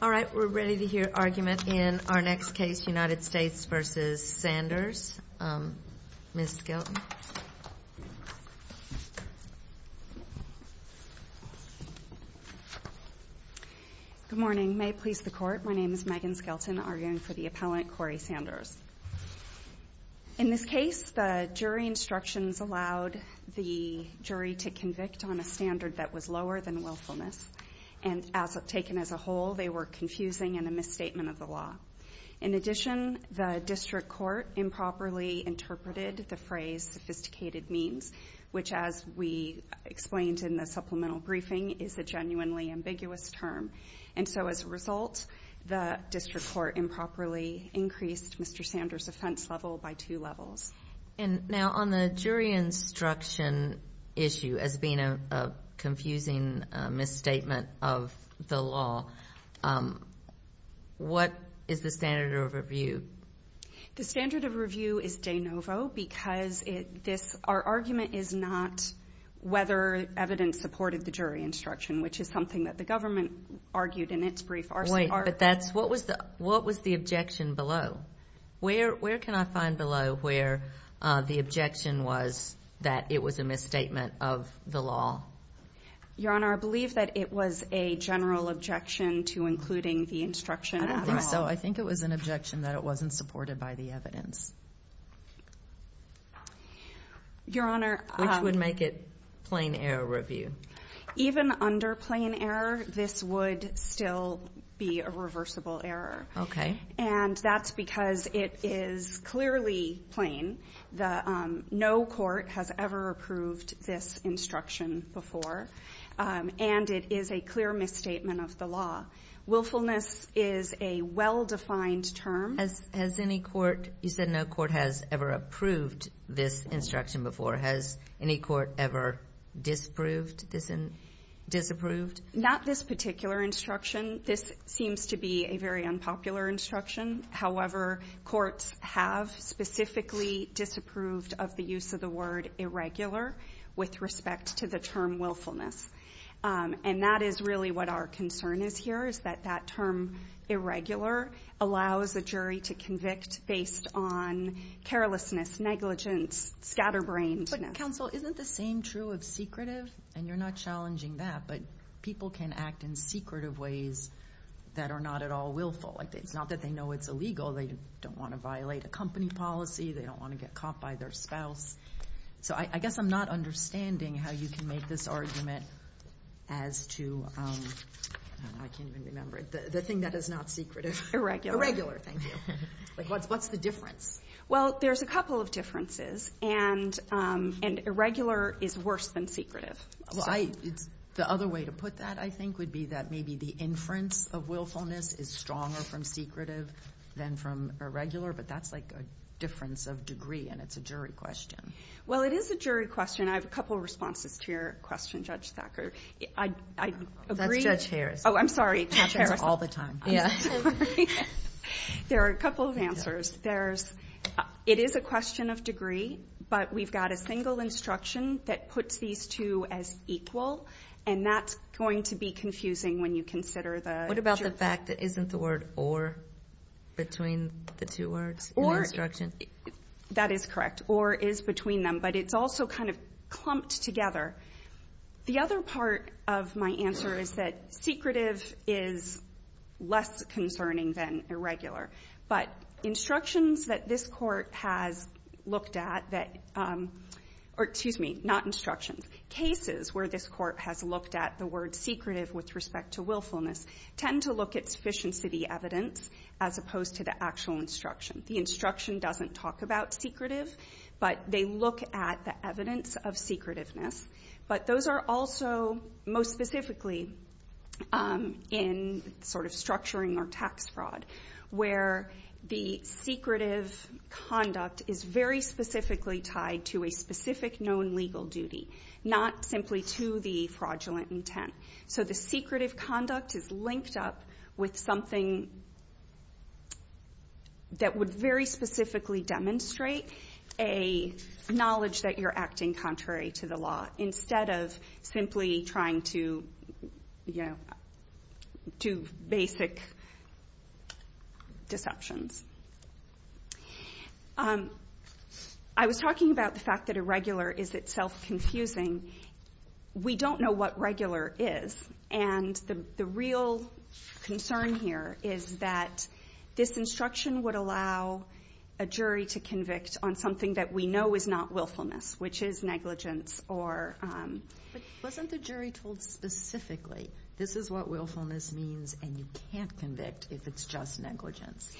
All right, we're ready to hear argument in our next case, United States v. Sanders. Ms. Skelton. Good morning. May it please the Court, my name is Megan Skelton, arguing for the appellant Cory Sanders. In this case, the jury instructions allowed the jury to convict on a standard that was lower than willfulness. And taken as a whole, they were confusing and a misstatement of the law. In addition, the district court improperly interpreted the phrase sophisticated means, which, as we explained in the supplemental briefing, is a genuinely ambiguous term. And so as a result, the district court improperly increased Mr. Sanders' offense level by two levels. And now on the jury instruction issue as being a confusing misstatement of the law, what is the standard of review? The standard of review is de novo because our argument is not whether evidence supported the jury instruction, which is something that the government argued in its brief. Wait, but what was the objection below? Where can I find below where the objection was that it was a misstatement of the law? Your Honor, I believe that it was a general objection to including the instruction at all. I think so. I think it was an objection that it wasn't supported by the evidence. Your Honor. Which would make it plain error review. Even under plain error, this would still be a reversible error. And that's because it is clearly plain. No court has ever approved this instruction before. And it is a clear misstatement of the law. Willfulness is a well-defined term. Has any court, you said no court has ever approved this instruction before. Has any court ever disapproved this and disapproved? Not this particular instruction. This seems to be a very unpopular instruction. However, courts have specifically disapproved of the use of the word irregular with respect to the term willfulness. And that is really what our concern is here is that that term irregular allows a jury to convict based on carelessness, negligence, scatterbrainedness. Counsel, isn't the same true of secretive? And you're not challenging that. But people can act in secretive ways that are not at all willful. It's not that they know it's illegal. They don't want to violate a company policy. They don't want to get caught by their spouse. So I guess I'm not understanding how you can make this argument as to, I can't even remember, the thing that is not secretive. Irregular, thank you. What's the difference? Well, there's a couple of differences. And irregular is worse than secretive. The other way to put that, I think, would be that maybe the inference of willfulness is stronger from secretive than from irregular. But that's like a difference of degree. And it's a jury question. Well, it is a jury question. I have a couple of responses to your question, Judge Thacker. That's Judge Harris. Oh, I'm sorry. That happens all the time. I'm sorry. There are a couple of answers. It is a question of degree. But we've got a single instruction that puts these two as equal. And that's going to be confusing when you consider the jury. The fact that isn't the word or between the two words in the instruction? That is correct. Or is between them. But it's also kind of clumped together. The other part of my answer is that secretive is less concerning than irregular. But instructions that this Court has looked at that or, excuse me, not instructions, cases where this Court has looked at the word secretive with respect to willfulness tend to look at sufficiency of the evidence as opposed to the actual instruction. The instruction doesn't talk about secretive, but they look at the evidence of secretiveness. But those are also most specifically in sort of structuring or tax fraud, where the secretive conduct is very specifically tied to a specific known legal duty, not simply to the fraudulent intent. So the secretive conduct is linked up with something that would very specifically demonstrate a knowledge that you're acting contrary to the law instead of simply trying to do basic deceptions. I was talking about the fact that irregular is itself confusing. We don't know what regular is. And the real concern here is that this instruction would allow a jury to convict on something that we know is not willfulness, which is negligence. But wasn't the jury told specifically, this is what willfulness means and you can't convict if it's just negligence?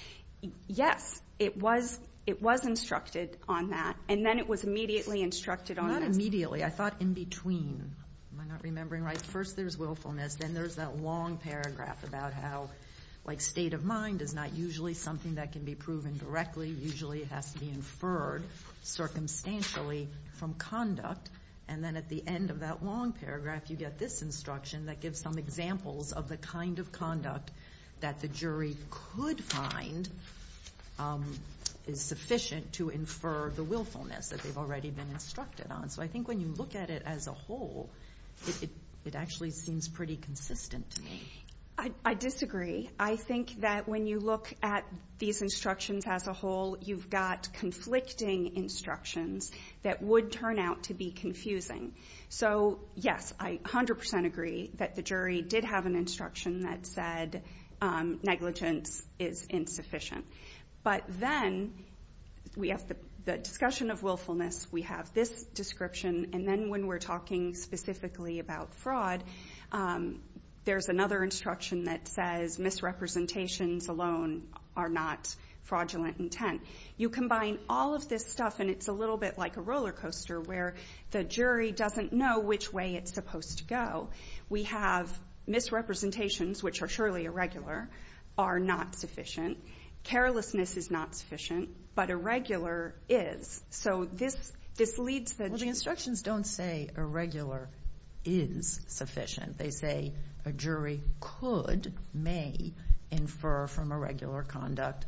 Yes. It was instructed on that. And then it was immediately instructed on this. Not immediately. I thought in between. Am I not remembering right? First there's willfulness. Then there's that long paragraph about how, like, state of mind is not usually something that can be proven directly. Usually it has to be inferred circumstantially from conduct. And then at the end of that long paragraph you get this instruction that gives some examples of the kind of conduct that the jury could find is sufficient to infer the willfulness that they've already been instructed on. So I think when you look at it as a whole, it actually seems pretty consistent to me. I disagree. I think that when you look at these instructions as a whole, you've got conflicting instructions that would turn out to be confusing. So, yes, I 100% agree that the jury did have an instruction that said negligence is insufficient. But then we have the discussion of willfulness, we have this description, and then when we're talking specifically about fraud, there's another instruction that says misrepresentations alone are not fraudulent intent. You combine all of this stuff and it's a little bit like a roller coaster where the jury doesn't know which way it's supposed to go. We have misrepresentations, which are surely irregular, are not sufficient. Carelessness is not sufficient. But irregular is. So this leads to the jury. The instructions don't say irregular is sufficient. They say a jury could, may, infer from irregular conduct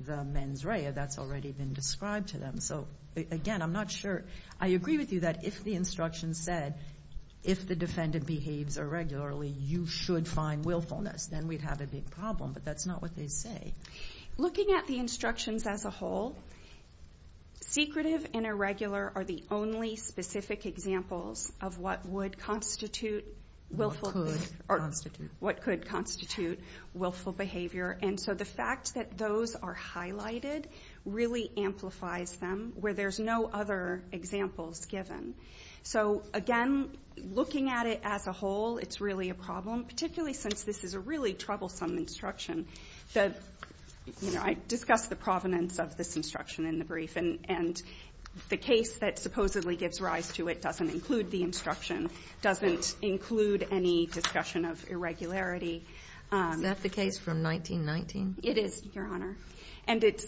the mens rea. That's already been described to them. So, again, I'm not sure. I agree with you that if the instruction said if the defendant behaves irregularly, you should find willfulness, then we'd have a big problem. But that's not what they say. Looking at the instructions as a whole, secretive and irregular are the only specific examples of what would constitute willful behavior. Or what could constitute willful behavior. And so the fact that those are highlighted really amplifies them, where there's no other examples given. So, again, looking at it as a whole, it's really a problem, particularly since this is a really troublesome instruction. I discussed the provenance of this instruction in the brief. And the case that supposedly gives rise to it doesn't include the instruction, doesn't include any discussion of irregularity. Is that the case from 1919? It is, Your Honor. And it's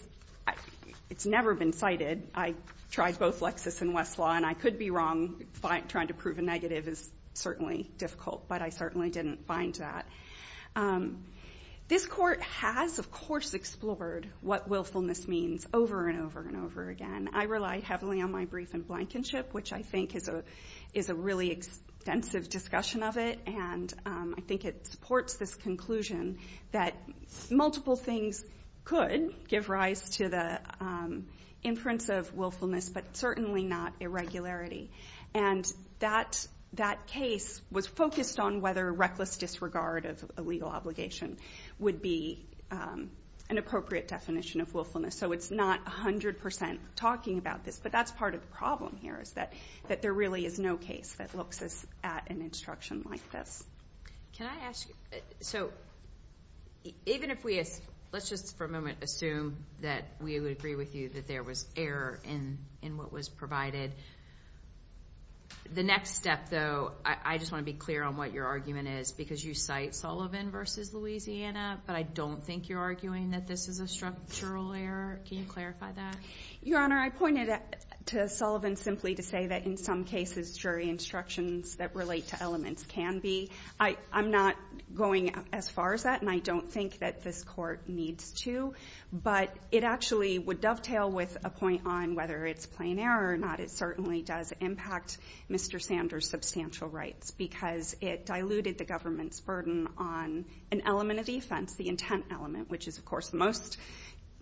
never been cited. I tried both Lexis and Westlaw, and I could be wrong. Trying to prove a negative is certainly difficult. But I certainly didn't find that. This court has, of course, explored what willfulness means over and over and over again. I relied heavily on my brief in Blankenship, which I think is a really extensive discussion of it. And I think it supports this conclusion that multiple things could give rise to the inference of willfulness, but certainly not irregularity. And that case was focused on whether reckless disregard of a legal obligation would be an appropriate definition of willfulness. So it's not 100% talking about this, but that's part of the problem here, is that there really is no case that looks at an instruction like this. Can I ask you, so even if we, let's just for a moment assume that we would agree with you that there was error in what was provided. The next step, though, I just want to be clear on what your argument is, because you cite Sullivan v. Louisiana, but I don't think you're arguing that this is a structural error. Can you clarify that? Your Honor, I pointed to Sullivan simply to say that in some cases jury instructions that relate to elements can be. I'm not going as far as that, and I don't think that this court needs to. But it actually would dovetail with a point on whether it's plain error or not. It certainly does impact Mr. Sanders' substantial rights, because it diluted the government's burden on an element of defense, the intent element, which is, of course, the most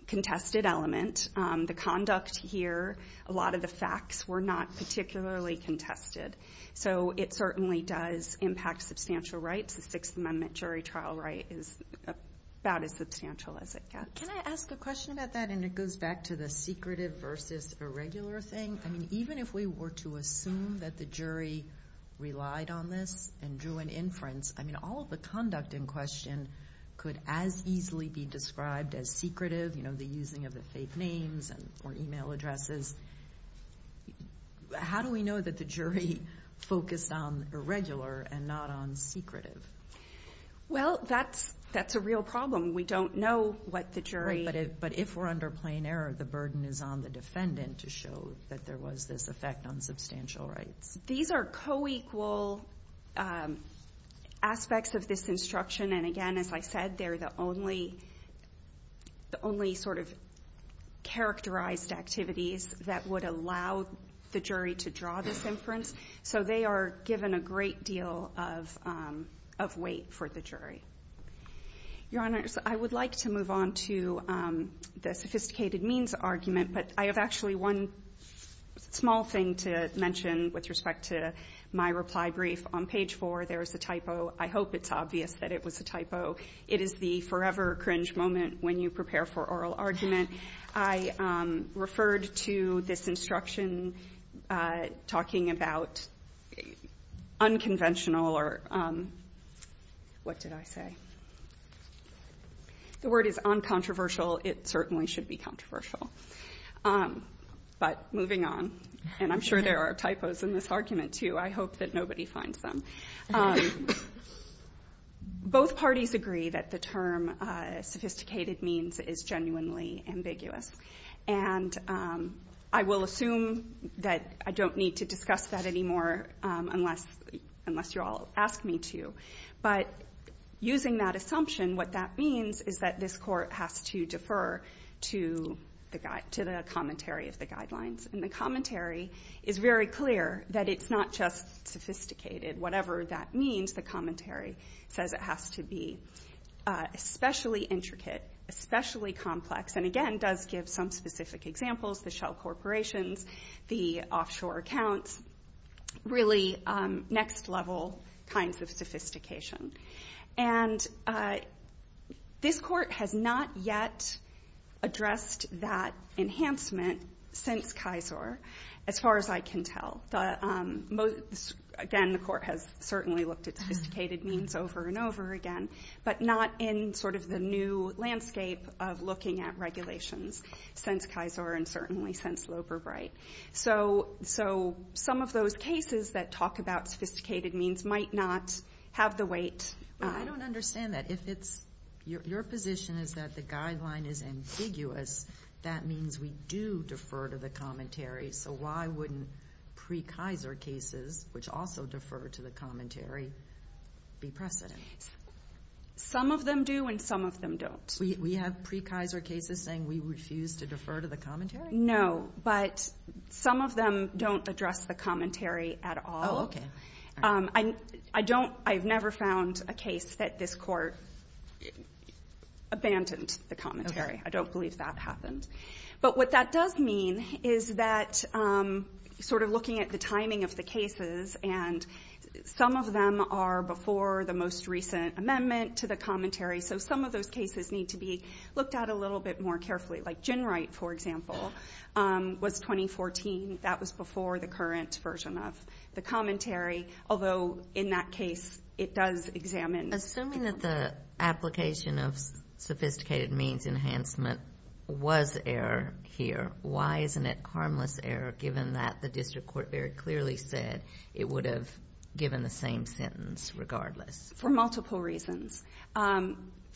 contested element. The conduct here, a lot of the facts were not particularly contested. So it certainly does impact substantial rights. The Sixth Amendment jury trial right is about as substantial as it gets. Can I ask a question about that? And it goes back to the secretive versus irregular thing. I mean, even if we were to assume that the jury relied on this and drew an inference, I mean, all of the conduct in question could as easily be described as secretive, you know, the using of the fake names or email addresses. How do we know that the jury focused on irregular and not on secretive? Well, that's a real problem. We don't know what the jury. Right. But if we're under plain error, the burden is on the defendant to show that there was this effect on substantial rights. These are co-equal aspects of this instruction. And, again, as I said, they're the only sort of characterized activities that would allow the jury to draw this inference. So they are given a great deal of weight for the jury. Your Honors, I would like to move on to the sophisticated means argument. But I have actually one small thing to mention with respect to my reply brief. On page 4, there is a typo. I hope it's obvious that it was a typo. It is the forever cringe moment when you prepare for oral argument. I referred to this instruction talking about unconventional or what did I say? The word is uncontroversial. It certainly should be controversial. But moving on, and I'm sure there are typos in this argument, too. I hope that nobody finds them. Both parties agree that the term sophisticated means is genuinely ambiguous. And I will assume that I don't need to discuss that anymore unless you all ask me to. But using that assumption, what that means is that this Court has to defer to the commentary of the guidelines. And the commentary is very clear that it's not just sophisticated. Whatever that means, the commentary says it has to be especially intricate, especially complex, and, again, does give some specific examples, the shell corporations, the offshore accounts, really next-level kinds of sophistication. And this Court has not yet addressed that enhancement since KISOR, as far as I can tell. Again, the Court has certainly looked at sophisticated means over and over again, but not in sort of the new landscape of looking at regulations since KISOR and certainly since Loeber-Bright. So some of those cases that talk about sophisticated means might not have the weight. I don't understand that. If your position is that the guideline is ambiguous, that means we do defer to the commentary. So why wouldn't pre-KISOR cases, which also defer to the commentary, be precedent? Some of them do and some of them don't. We have pre-KISOR cases saying we refuse to defer to the commentary? No, but some of them don't address the commentary at all. I've never found a case that this Court abandoned the commentary. Okay. I don't believe that happened. But what that does mean is that sort of looking at the timing of the cases, and some of them are before the most recent amendment to the commentary, so some of those cases need to be looked at a little bit more carefully. Like GenWright, for example, was 2014. That was before the current version of the commentary, although in that case it does examine the commentary. Assuming that the application of sophisticated means enhancement was error here, why isn't it harmless error given that the district court very clearly said it would have given the same sentence regardless? For multiple reasons.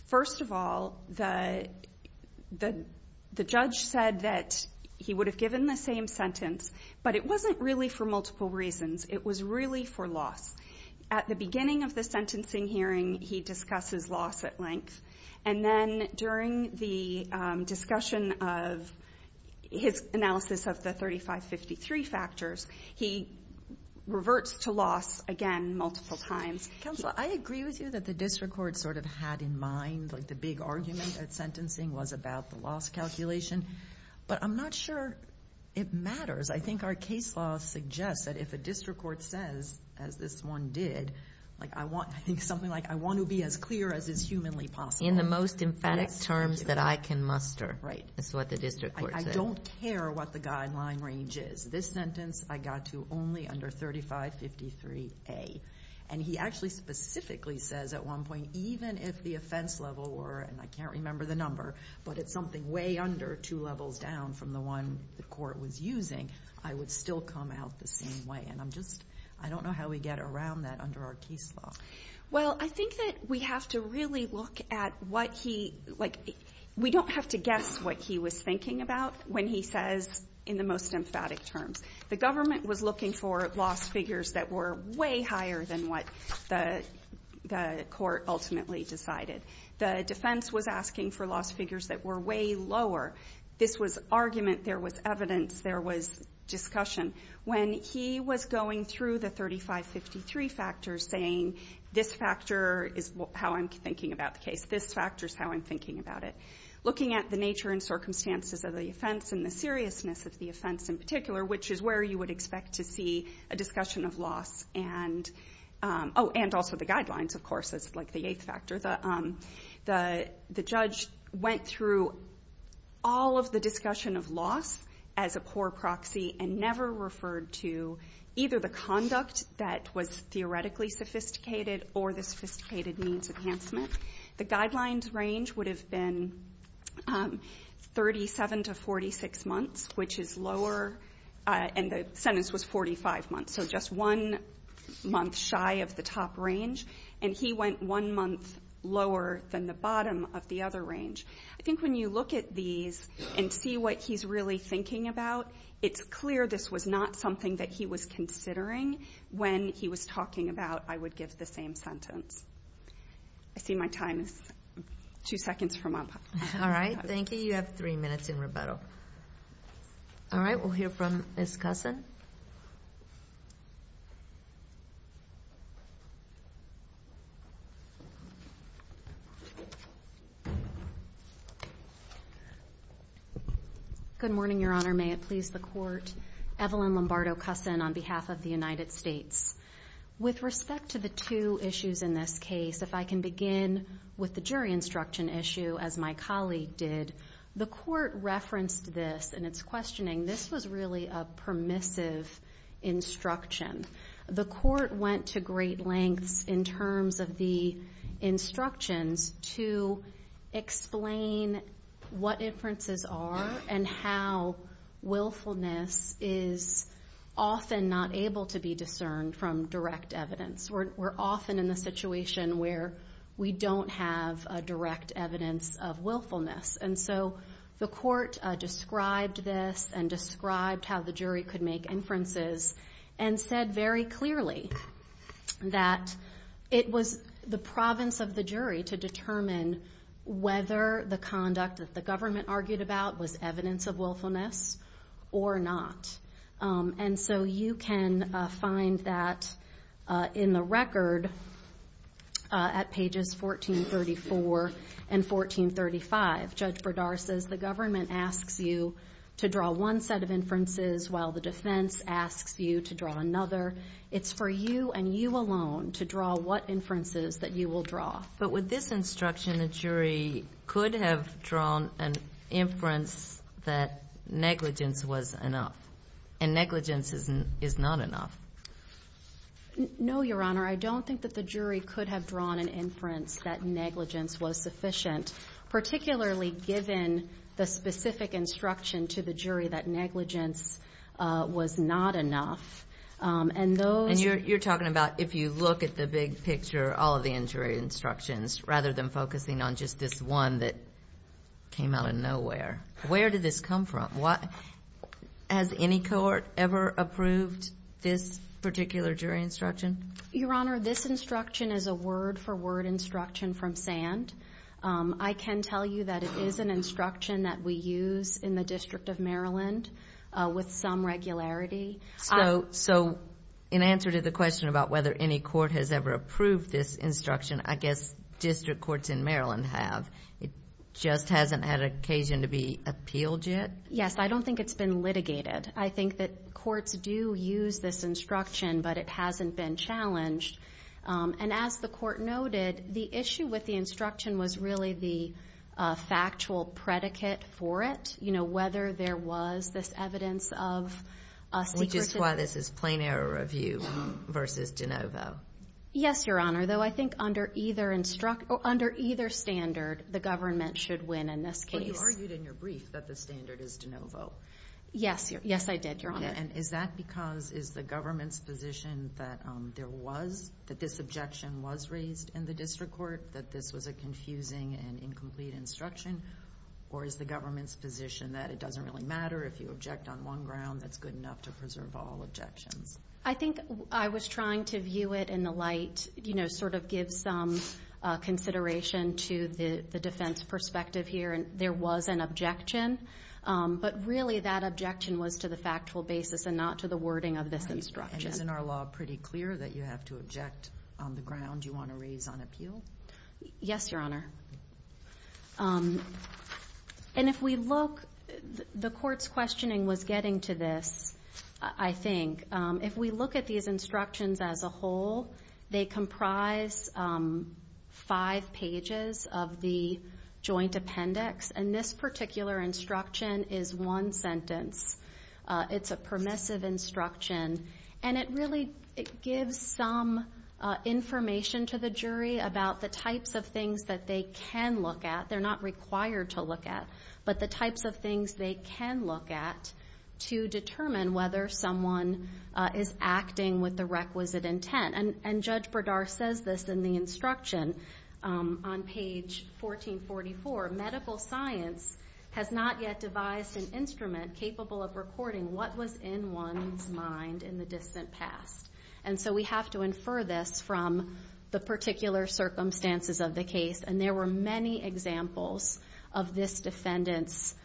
First of all, the judge said that he would have given the same sentence, but it wasn't really for multiple reasons. It was really for loss. At the beginning of the sentencing hearing, he discusses loss at length, and then during the discussion of his analysis of the 3553 factors, he reverts to loss again multiple times. Counsel, I agree with you that the district court sort of had in mind, like the big argument at sentencing was about the loss calculation, but I'm not sure it matters. I think our case law suggests that if a district court says, as this one did, like I think something like, I want to be as clear as is humanly possible. In the most emphatic terms that I can muster is what the district court said. I don't care what the guideline range is. This sentence I got to only under 3553A. And he actually specifically says at one point, even if the offense level were, and I can't remember the number, but it's something way under two levels down from the one the court was using, I would still come out the same way. And I'm just, I don't know how we get around that under our case law. Well, I think that we have to really look at what he, like, we don't have to guess what he was thinking about when he says in the most emphatic terms. The government was looking for loss figures that were way higher than what the court ultimately decided. The defense was asking for loss figures that were way lower. This was argument. There was evidence. There was discussion. When he was going through the 3553 factors saying this factor is how I'm thinking about the case, this factor is how I'm thinking about it, looking at the nature and circumstances of the offense and the seriousness of the offense in particular, which is where you would expect to see a discussion of loss. And also the guidelines, of course, is like the eighth factor. The judge went through all of the discussion of loss as a poor proxy and never referred to either the conduct that was theoretically sophisticated or the sophisticated means of enhancement. The guidelines range would have been 37 to 46 months, which is lower. And the sentence was 45 months, so just one month shy of the top range. And he went one month lower than the bottom of the other range. I think when you look at these and see what he's really thinking about, it's clear this was not something that he was considering when he was talking about how I would give the same sentence. I see my time is two seconds from up. All right, thank you. You have three minutes in rebuttal. All right, we'll hear from Ms. Cussin. Good morning, Your Honor. May it please the Court. Evelyn Lombardo Cussin on behalf of the United States. With respect to the two issues in this case, if I can begin with the jury instruction issue, as my colleague did. The Court referenced this in its questioning. This was really a permissive instruction. The Court went to great lengths in terms of the instructions to explain what inferences are and how willfulness is often not able to be discerned from direct evidence. We're often in the situation where we don't have direct evidence of willfulness. And so the Court described this and described how the jury could make inferences and said very clearly that it was the province of the jury to determine whether the conduct that the government argued about was evidence of willfulness or not. And so you can find that in the record at pages 1434 and 1435. Judge Bredar says the government asks you to draw one set of inferences while the defense asks you to draw another. It's for you and you alone to draw what inferences that you will draw. But with this instruction, the jury could have drawn an inference that negligence was enough and negligence is not enough. No, Your Honor. I don't think that the jury could have drawn an inference that negligence was sufficient, particularly given the specific instruction to the jury that negligence was not enough. And you're talking about if you look at the big picture, all of the injury instructions, rather than focusing on just this one that came out of nowhere. Where did this come from? Has any court ever approved this particular jury instruction? Your Honor, this instruction is a word-for-word instruction from SAND. I can tell you that it is an instruction that we use in the District of Maryland with some regularity. So in answer to the question about whether any court has ever approved this instruction, I guess district courts in Maryland have. It just hasn't had occasion to be appealed yet? Yes, I don't think it's been litigated. I think that courts do use this instruction, but it hasn't been challenged. And as the court noted, the issue with the instruction was really the factual predicate for it, you know, whether there was this evidence of secrecy. Which is why this is plain error review versus de novo. Yes, Your Honor, though I think under either standard, the government should win in this case. But you argued in your brief that the standard is de novo. Yes, I did, Your Honor. And is that because is the government's position that there was, that this objection was raised in the district court, that this was a confusing and incomplete instruction? Or is the government's position that it doesn't really matter if you object on one ground, that's good enough to preserve all objections? I think I was trying to view it in the light, you know, sort of give some consideration to the defense perspective here. There was an objection, but really that objection was to the factual basis and not to the wording of this instruction. And isn't our law pretty clear that you have to object on the ground you want to raise on appeal? Yes, Your Honor. And if we look, the court's questioning was getting to this, I think. If we look at these instructions as a whole, they comprise five pages of the joint appendix. And this particular instruction is one sentence. It's a permissive instruction. And it really gives some information to the jury about the types of things that they can look at. They're not required to look at. But the types of things they can look at to determine whether someone is acting with the requisite intent. And Judge Berdar says this in the instruction on page 1444. Medical science has not yet devised an instrument capable of recording what was in one's mind in the distant past. And so we have to infer this from the particular circumstances of the case. And there were many examples of this defendant's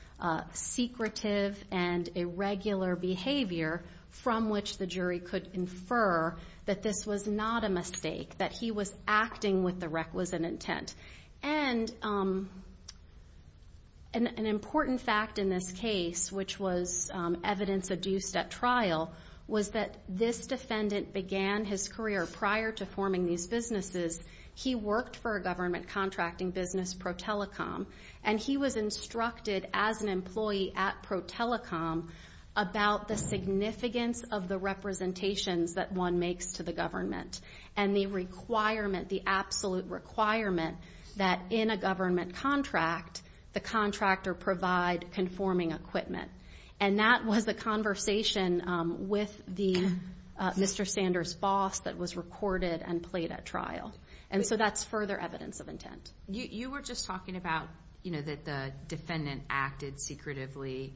secretive and irregular behavior from which the jury could infer that this was not a mistake, that he was acting with the requisite intent. And an important fact in this case, which was evidence adduced at trial, was that this defendant began his career prior to forming these businesses. He worked for a government contracting business, ProTelecom, and he was instructed as an employee at ProTelecom about the significance of the representations that one makes to the government and the requirement, the absolute requirement, that in a government contract the contractor provide conforming equipment. And that was the conversation with the Mr. Sanders boss that was recorded and played at trial. And so that's further evidence of intent. You were just talking about, you know, that the defendant acted secretively.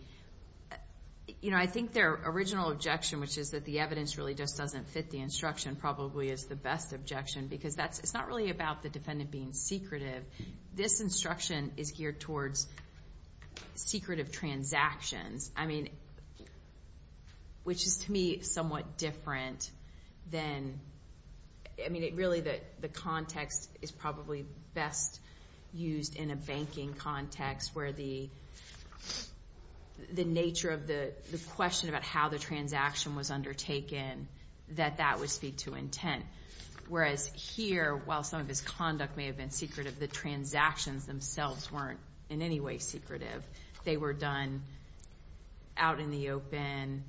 You know, I think their original objection, which is that the evidence really just doesn't fit the instruction, probably is the best objection because it's not really about the defendant being secretive. This instruction is geared towards secretive transactions, I mean, which is to me somewhat different than, I mean, really the context is probably best used in a banking context where the nature of the question about how the transaction was undertaken, that that would speak to intent. Whereas here, while some of his conduct may have been secretive, the transactions themselves weren't in any way secretive. They were done out in the open.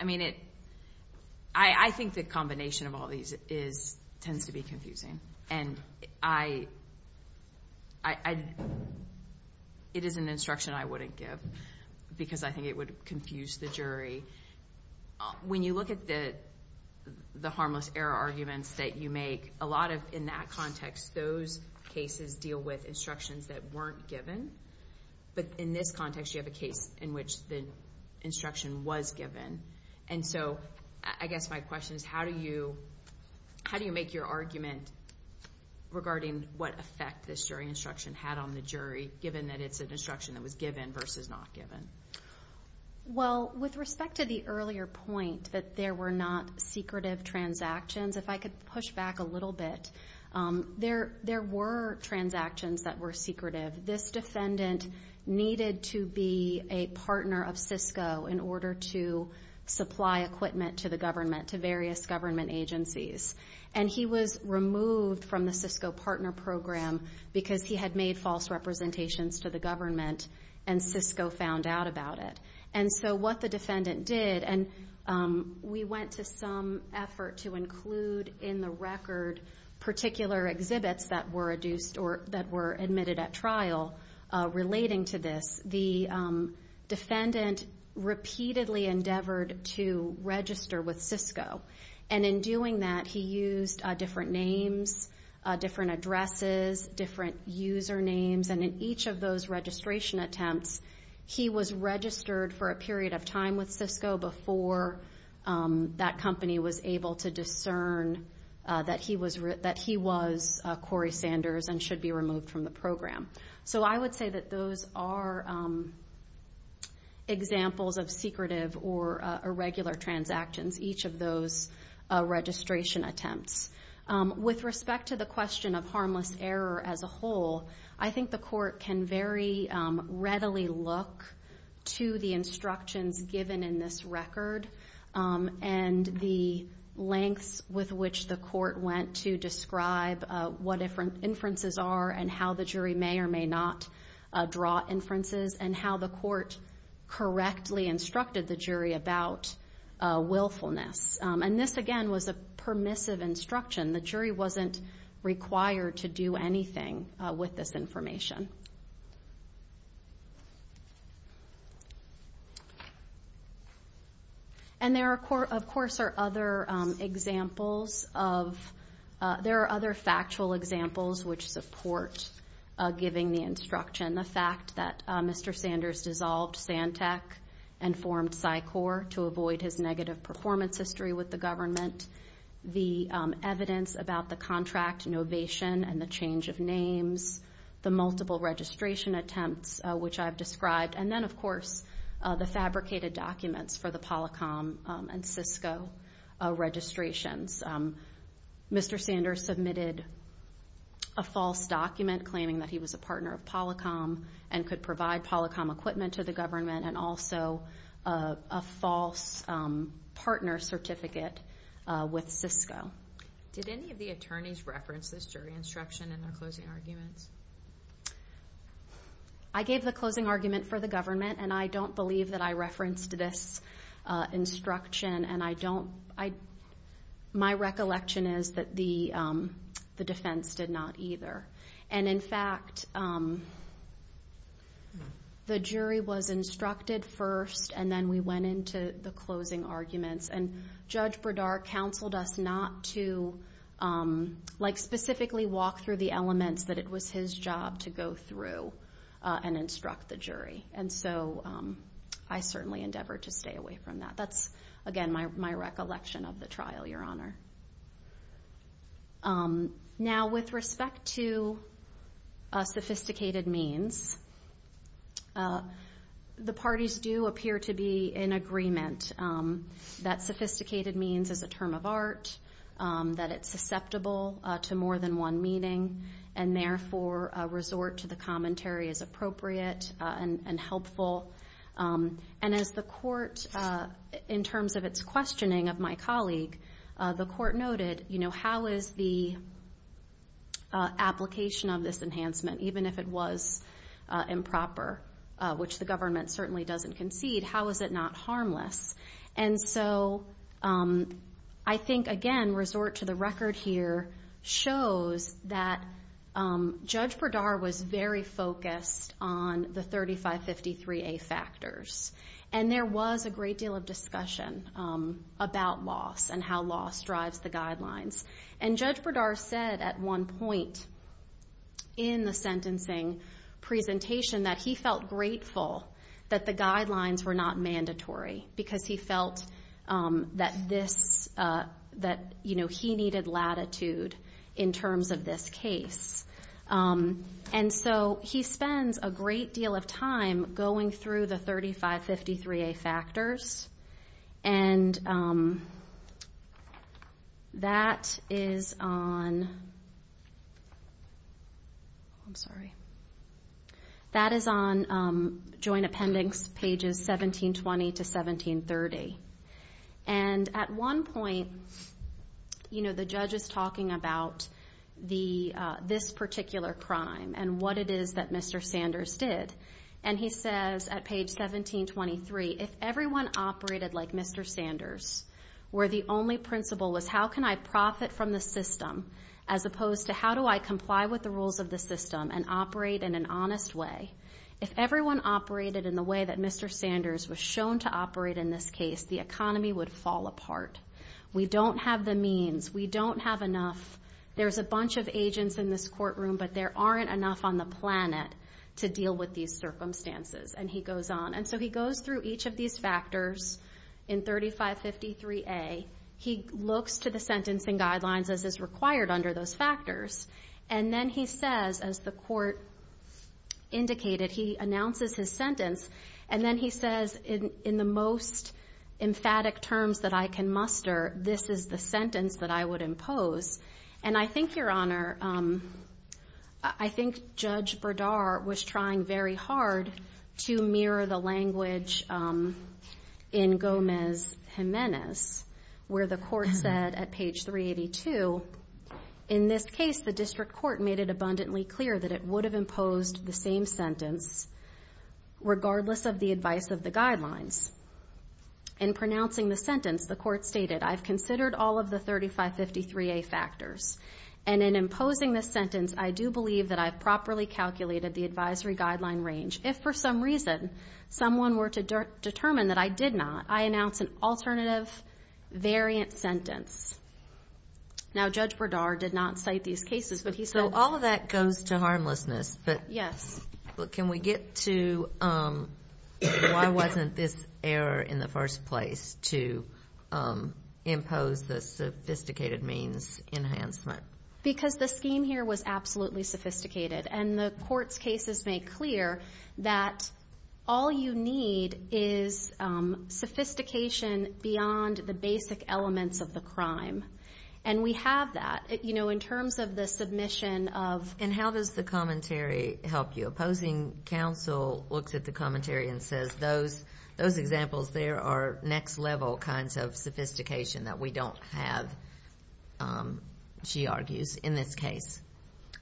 I mean, I think the combination of all these tends to be confusing. And it is an instruction I wouldn't give because I think it would confuse the jury. When you look at the harmless error arguments that you make, a lot of, in that context, those cases deal with instructions that weren't given. But in this context, you have a case in which the instruction was given. And so I guess my question is, how do you make your argument regarding what effect this jury instruction had on the jury, given that it's an instruction that was given versus not given? Well, with respect to the earlier point that there were not secretive transactions, if I could push back a little bit, there were transactions that were secretive. This defendant needed to be a partner of Cisco in order to supply equipment to the government, to various government agencies. And he was removed from the Cisco partner program because he had made false representations to the government and Cisco found out about it. And so what the defendant did, and we went to some effort to include in the record particular exhibits that were adduced or that were admitted at trial relating to this, the defendant repeatedly endeavored to register with Cisco. And in doing that, he used different names, different addresses, different usernames. And in each of those registration attempts, he was registered for a period of time with Cisco before that company was able to discern that he was Corey Sanders and should be removed from the program. So I would say that those are examples of secretive or irregular transactions. Each of those registration attempts. With respect to the question of harmless error as a whole, I think the court can very readily look to the instructions given in this record and the lengths with which the court went to describe what inferences are and how the jury may or may not draw inferences and how the court correctly instructed the jury about willfulness. And this, again, was a permissive instruction. The jury wasn't required to do anything with this information. And there, of course, are other examples. There are other factual examples which support giving the instruction. The fact that Mr. Sanders dissolved Santec and formed PSYCOR to avoid his negative performance history with the government. The evidence about the contract novation and the change of names. The multiple registration attempts, which I've described. And then, of course, the fabricated documents for the Polycom and Cisco registrations. Mr. Sanders submitted a false document claiming that he was a partner of Polycom and could provide Polycom equipment to the government and also a false partner certificate with Cisco. Did any of the attorneys reference this jury instruction in their closing arguments? I gave the closing argument for the government, and I don't believe that I referenced this instruction. And my recollection is that the defense did not either. And, in fact, the jury was instructed first, and then we went into the closing arguments. And Judge Bredar counseled us not to specifically walk through the elements that it was his job to go through and instruct the jury. And so I certainly endeavor to stay away from that. That's, again, my recollection of the trial, Your Honor. Now, with respect to sophisticated means, the parties do appear to be in agreement that sophisticated means is a term of art, that it's susceptible to more than one meaning, and therefore a resort to the commentary is appropriate and helpful. And as the court, in terms of its questioning of my colleague, the court noted, how is the application of this enhancement, even if it was improper, which the government certainly doesn't concede, how is it not harmless? And so I think, again, resort to the record here shows that Judge Bredar was very focused on the 3553A factors. And there was a great deal of discussion about loss and how loss drives the guidelines. And Judge Bredar said at one point in the sentencing presentation that he felt grateful that the guidelines were not mandatory because he felt that he needed latitude in terms of this case. And so he spends a great deal of time going through the 3553A factors, and that is on Joint Appendix pages 1720 to 1730. And at one point, the judge is talking about this particular crime and what it is that Mr. Sanders did, and he says at page 1723, if everyone operated like Mr. Sanders, where the only principle was how can I profit from the system as opposed to how do I comply with the rules of the system and operate in an honest way, if everyone operated in the way that Mr. Sanders was shown to operate in this case, the economy would fall apart. We don't have the means. We don't have enough. There's a bunch of agents in this courtroom, but there aren't enough on the planet to deal with these circumstances. And he goes on. And so he goes through each of these factors in 3553A. He looks to the sentencing guidelines as is required under those factors, and then he says, as the court indicated, he announces his sentence, and then he says in the most emphatic terms that I can muster, this is the sentence that I would impose. And I think, Your Honor, I think Judge Berdar was trying very hard to mirror the language in Gomez-Gimenez where the court said at page 382, in this case the district court made it abundantly clear that it would have imposed the same sentence regardless of the advice of the guidelines. In pronouncing the sentence, the court stated, I've considered all of the 3553A factors, and in imposing this sentence, I do believe that I've properly calculated the advisory guideline range. If for some reason someone were to determine that I did not, I announce an alternative variant sentence. Now, Judge Berdar did not cite these cases, but he said. So all of that goes to harmlessness. Yes. Well, can we get to why wasn't this error in the first place to impose the sophisticated means enhancement? Because the scheme here was absolutely sophisticated, and the court's cases make clear that all you need is sophistication beyond the basic elements of the crime. And we have that. You know, in terms of the submission of... And how does the commentary help you? Opposing counsel looks at the commentary and says, those examples there are next level kinds of sophistication that we don't have, she argues, in this case.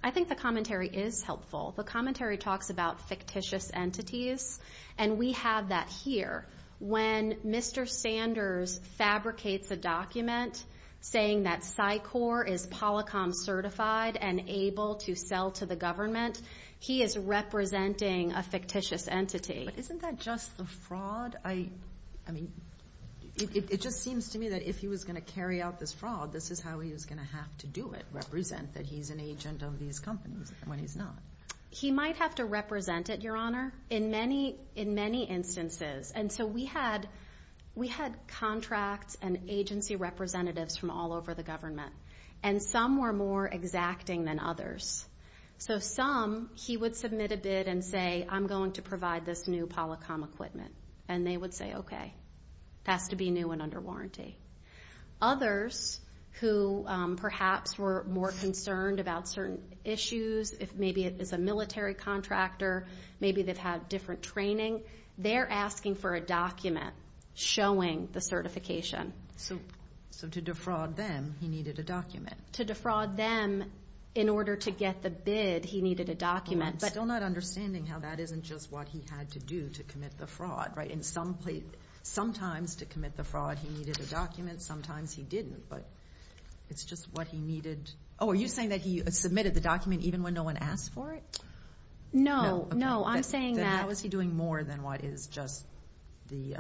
I think the commentary is helpful. The commentary talks about fictitious entities, and we have that here. When Mr. Sanders fabricates a document saying that PSYCOR is Polycom certified and able to sell to the government, he is representing a fictitious entity. But isn't that just the fraud? I mean, it just seems to me that if he was going to carry out this fraud, this is how he was going to have to do it, represent that he's an agent of these companies when he's not. He might have to represent it, Your Honor, in many instances. And so we had contracts and agency representatives from all over the government, and some were more exacting than others. So some, he would submit a bid and say, I'm going to provide this new Polycom equipment. And they would say, okay. It has to be new and under warranty. Others who perhaps were more concerned about certain issues, if maybe it is a military contractor, maybe they've had different training, they're asking for a document showing the certification. So to defraud them, he needed a document. To defraud them, in order to get the bid, he needed a document. I'm still not understanding how that isn't just what he had to do to commit the fraud, right? Sometimes to commit the fraud, he needed a document. Sometimes he didn't, but it's just what he needed. Oh, are you saying that he submitted the document even when no one asked for it? No, no. I'm saying that. Then how is he doing more than what is just the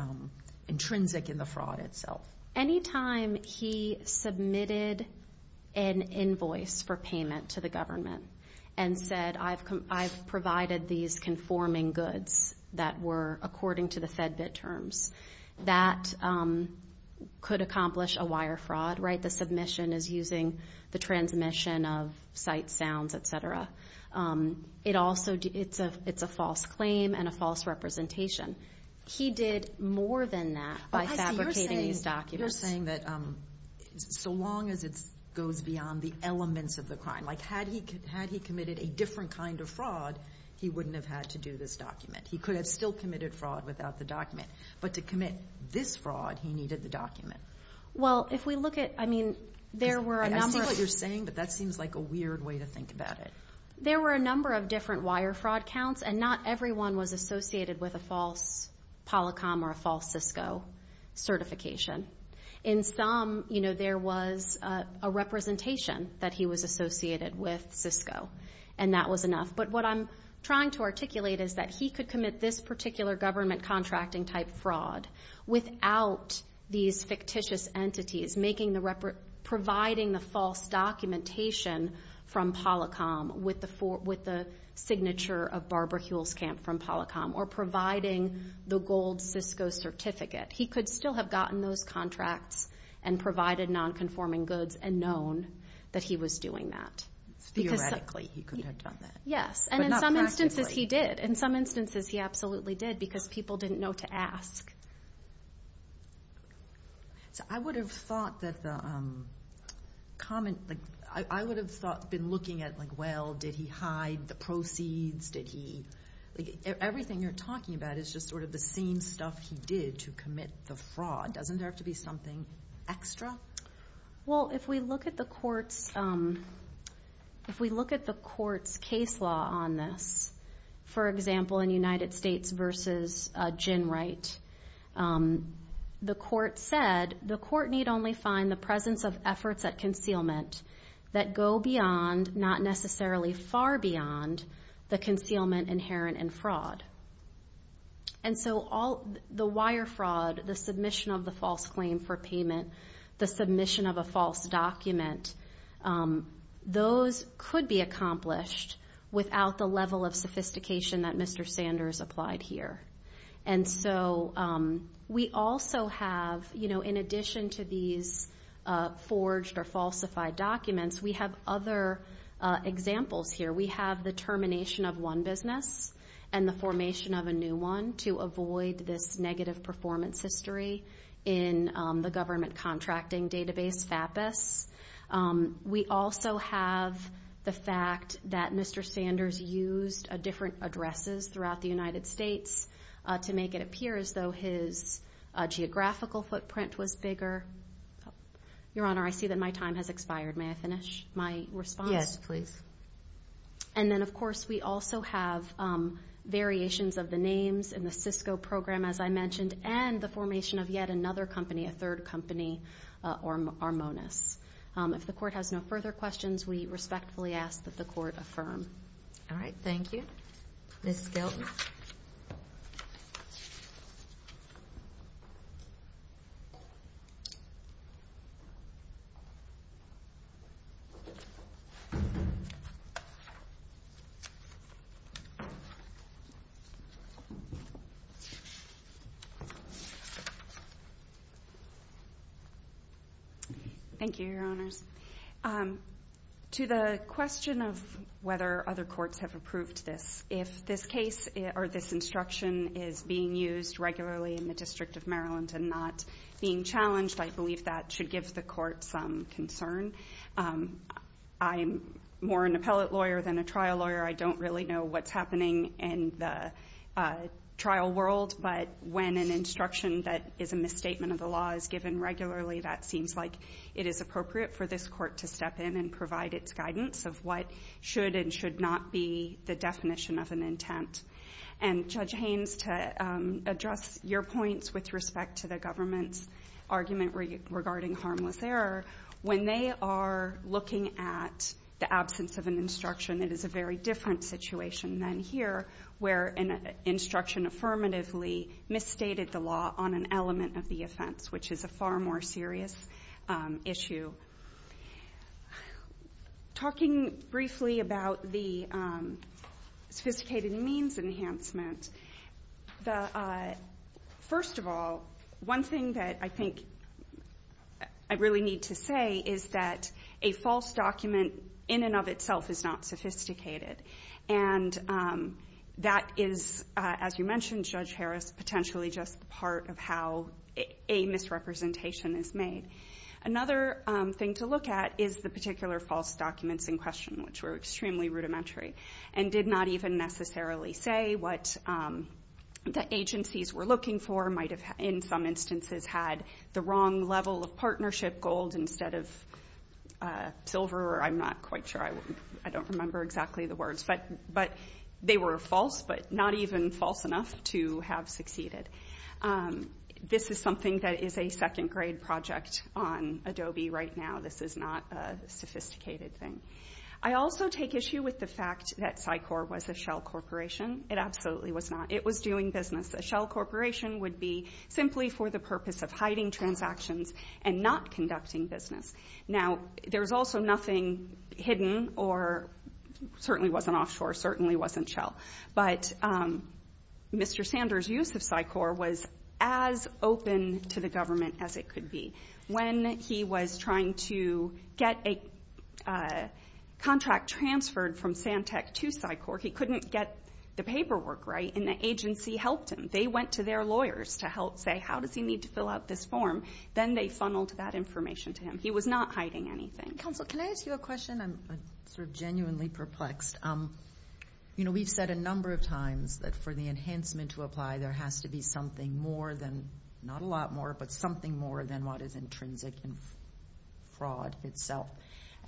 intrinsic in the fraud itself? Anytime he submitted an invoice for payment to the government and said, I've provided these conforming goods that were according to the FedBid terms, that could accomplish a wire fraud, right? The submission is using the transmission of sight, sounds, et cetera. It's a false claim and a false representation. He did more than that by fabricating these documents. You're saying that so long as it goes beyond the elements of the crime, like had he committed a different kind of fraud, he wouldn't have had to do this document. He could have still committed fraud without the document. But to commit this fraud, he needed the document. Well, if we look at, I mean, there were a number of- I see what you're saying, but that seems like a weird way to think about it. There were a number of different wire fraud counts, and not everyone was associated with a false Polycom or a false Cisco certification. In some, you know, there was a representation that he was associated with Cisco, and that was enough. But what I'm trying to articulate is that he could commit this particular government contracting type fraud without these fictitious entities making the-providing the false documentation from Polycom with the signature of Barbara Huelskamp from Polycom or providing the gold Cisco certificate. He could still have gotten those contracts and provided nonconforming goods and known that he was doing that. Theoretically, he could have done that. Yes, and in some instances he did. In some instances he absolutely did because people didn't know to ask. So I would have thought that the comment-I would have been looking at, like, well, did he hide the proceeds? Did he-like, everything you're talking about is just sort of the same stuff he did to commit the fraud. Doesn't there have to be something extra? Well, if we look at the court's-if we look at the court's case law on this, for example, in United States v. Ginwright, the court said, the court need only find the presence of efforts at concealment that go beyond, not necessarily far beyond, the concealment inherent in fraud. And so all-the wire fraud, the submission of the false claim for payment, the submission of a false document, those could be accomplished without the level of sophistication that Mr. Sanders applied here. And so we also have, you know, in addition to these forged or falsified documents, we have other examples here. We have the termination of one business and the formation of a new one to avoid this negative performance history in the government contracting database, FAPES. We also have the fact that Mr. Sanders used different addresses throughout the United States to make it appear as though his geographical footprint was bigger. Your Honor, I see that my time has expired. May I finish my response? Yes, please. And then, of course, we also have variations of the names in the Cisco program, as I mentioned, and the formation of yet another company, a third company, Armonis. If the court has no further questions, we respectfully ask that the court affirm. All right. Thank you. Ms. Skelton. Thank you, Your Honors. To the question of whether other courts have approved this, if this case or this instruction is being used regularly in the District of Maryland and not being challenged, I believe that should give the court some concern. I'm more an appellate lawyer than a trial lawyer. I don't really know what's happening in the trial world, but when an instruction that is a misstatement of the law is given regularly, that seems like it is appropriate for this court to step in and provide its guidance of what should and should not be the definition of an intent. And, Judge Haynes, to address your points with respect to the government's argument regarding harmless error, when they are looking at the absence of an instruction, it is a very different situation than here where an instruction affirmatively misstated the law on an element of the offense, which is a far more serious issue. Talking briefly about the sophisticated means enhancement, first of all, one thing that I think I really need to say is that a false document in and of itself is not sophisticated. And that is, as you mentioned, Judge Harris, potentially just part of how a misrepresentation is made. Another thing to look at is the particular false documents in question, which were extremely rudimentary and did not even necessarily say what the agencies were looking for, might have in some instances had the wrong level of partnership gold instead of silver. I'm not quite sure. I don't remember exactly the words. But they were false, but not even false enough to have succeeded. This is something that is a second-grade project on Adobe right now. This is not a sophisticated thing. I also take issue with the fact that PSYCOR was a shell corporation. It absolutely was not. It was doing business. A shell corporation would be simply for the purpose of hiding transactions and not conducting business. Now, there was also nothing hidden or certainly wasn't offshore, certainly wasn't shell. But Mr. Sanders' use of PSYCOR was as open to the government as it could be. When he was trying to get a contract transferred from Santec to PSYCOR, he couldn't get the paperwork right, and the agency helped him. They went to their lawyers to help say, how does he need to fill out this form? Then they funneled that information to him. He was not hiding anything. Counsel, can I ask you a question? I'm sort of genuinely perplexed. You know, we've said a number of times that for the enhancement to apply, there has to be something more than, not a lot more, but something more than what is intrinsic in fraud itself.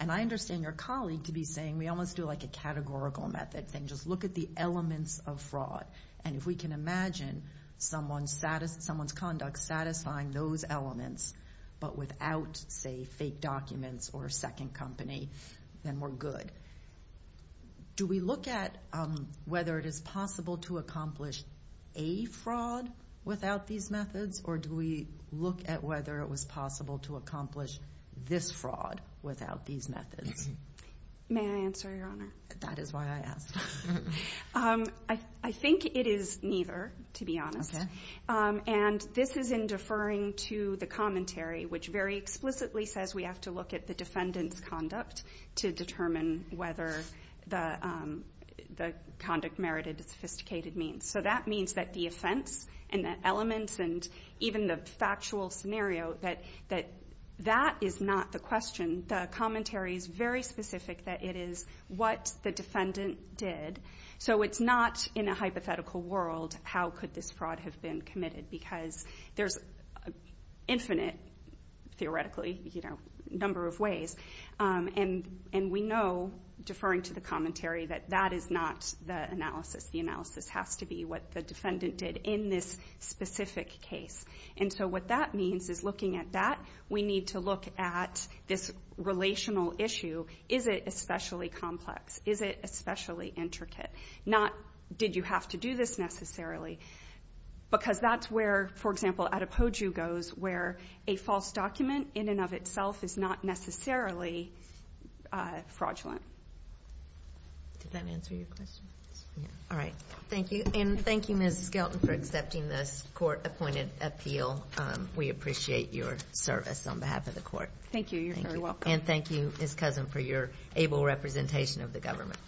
And I understand your colleague to be saying we almost do like a categorical method thing, just look at the elements of fraud. And if we can imagine someone's conduct satisfying those elements, but without, say, fake documents or a second company, then we're good. Do we look at whether it is possible to accomplish a fraud without these methods, or do we look at whether it was possible to accomplish this fraud without these methods? May I answer, Your Honor? That is why I asked. I think it is neither, to be honest. And this is in deferring to the commentary, which very explicitly says we have to look at the defendant's conduct to determine whether the conduct merited sophisticated means. So that means that the offense and the elements and even the factual scenario, that that is not the question. The commentary is very specific that it is what the defendant did. So it's not, in a hypothetical world, how could this fraud have been committed, because there's infinite, theoretically, you know, number of ways. And we know, deferring to the commentary, that that is not the analysis. The analysis has to be what the defendant did in this specific case. And so what that means is, looking at that, we need to look at this relational issue. Is it especially complex? Is it especially intricate? Not, did you have to do this necessarily? Because that's where, for example, Adepoju goes where a false document in and of itself is not necessarily fraudulent. Did that answer your question? All right. Thank you. And thank you, Ms. Skelton, for accepting this court-appointed appeal. We appreciate your service on behalf of the court. Thank you. You're very welcome. And thank you, Ms. Cousin, for your able representation of the government.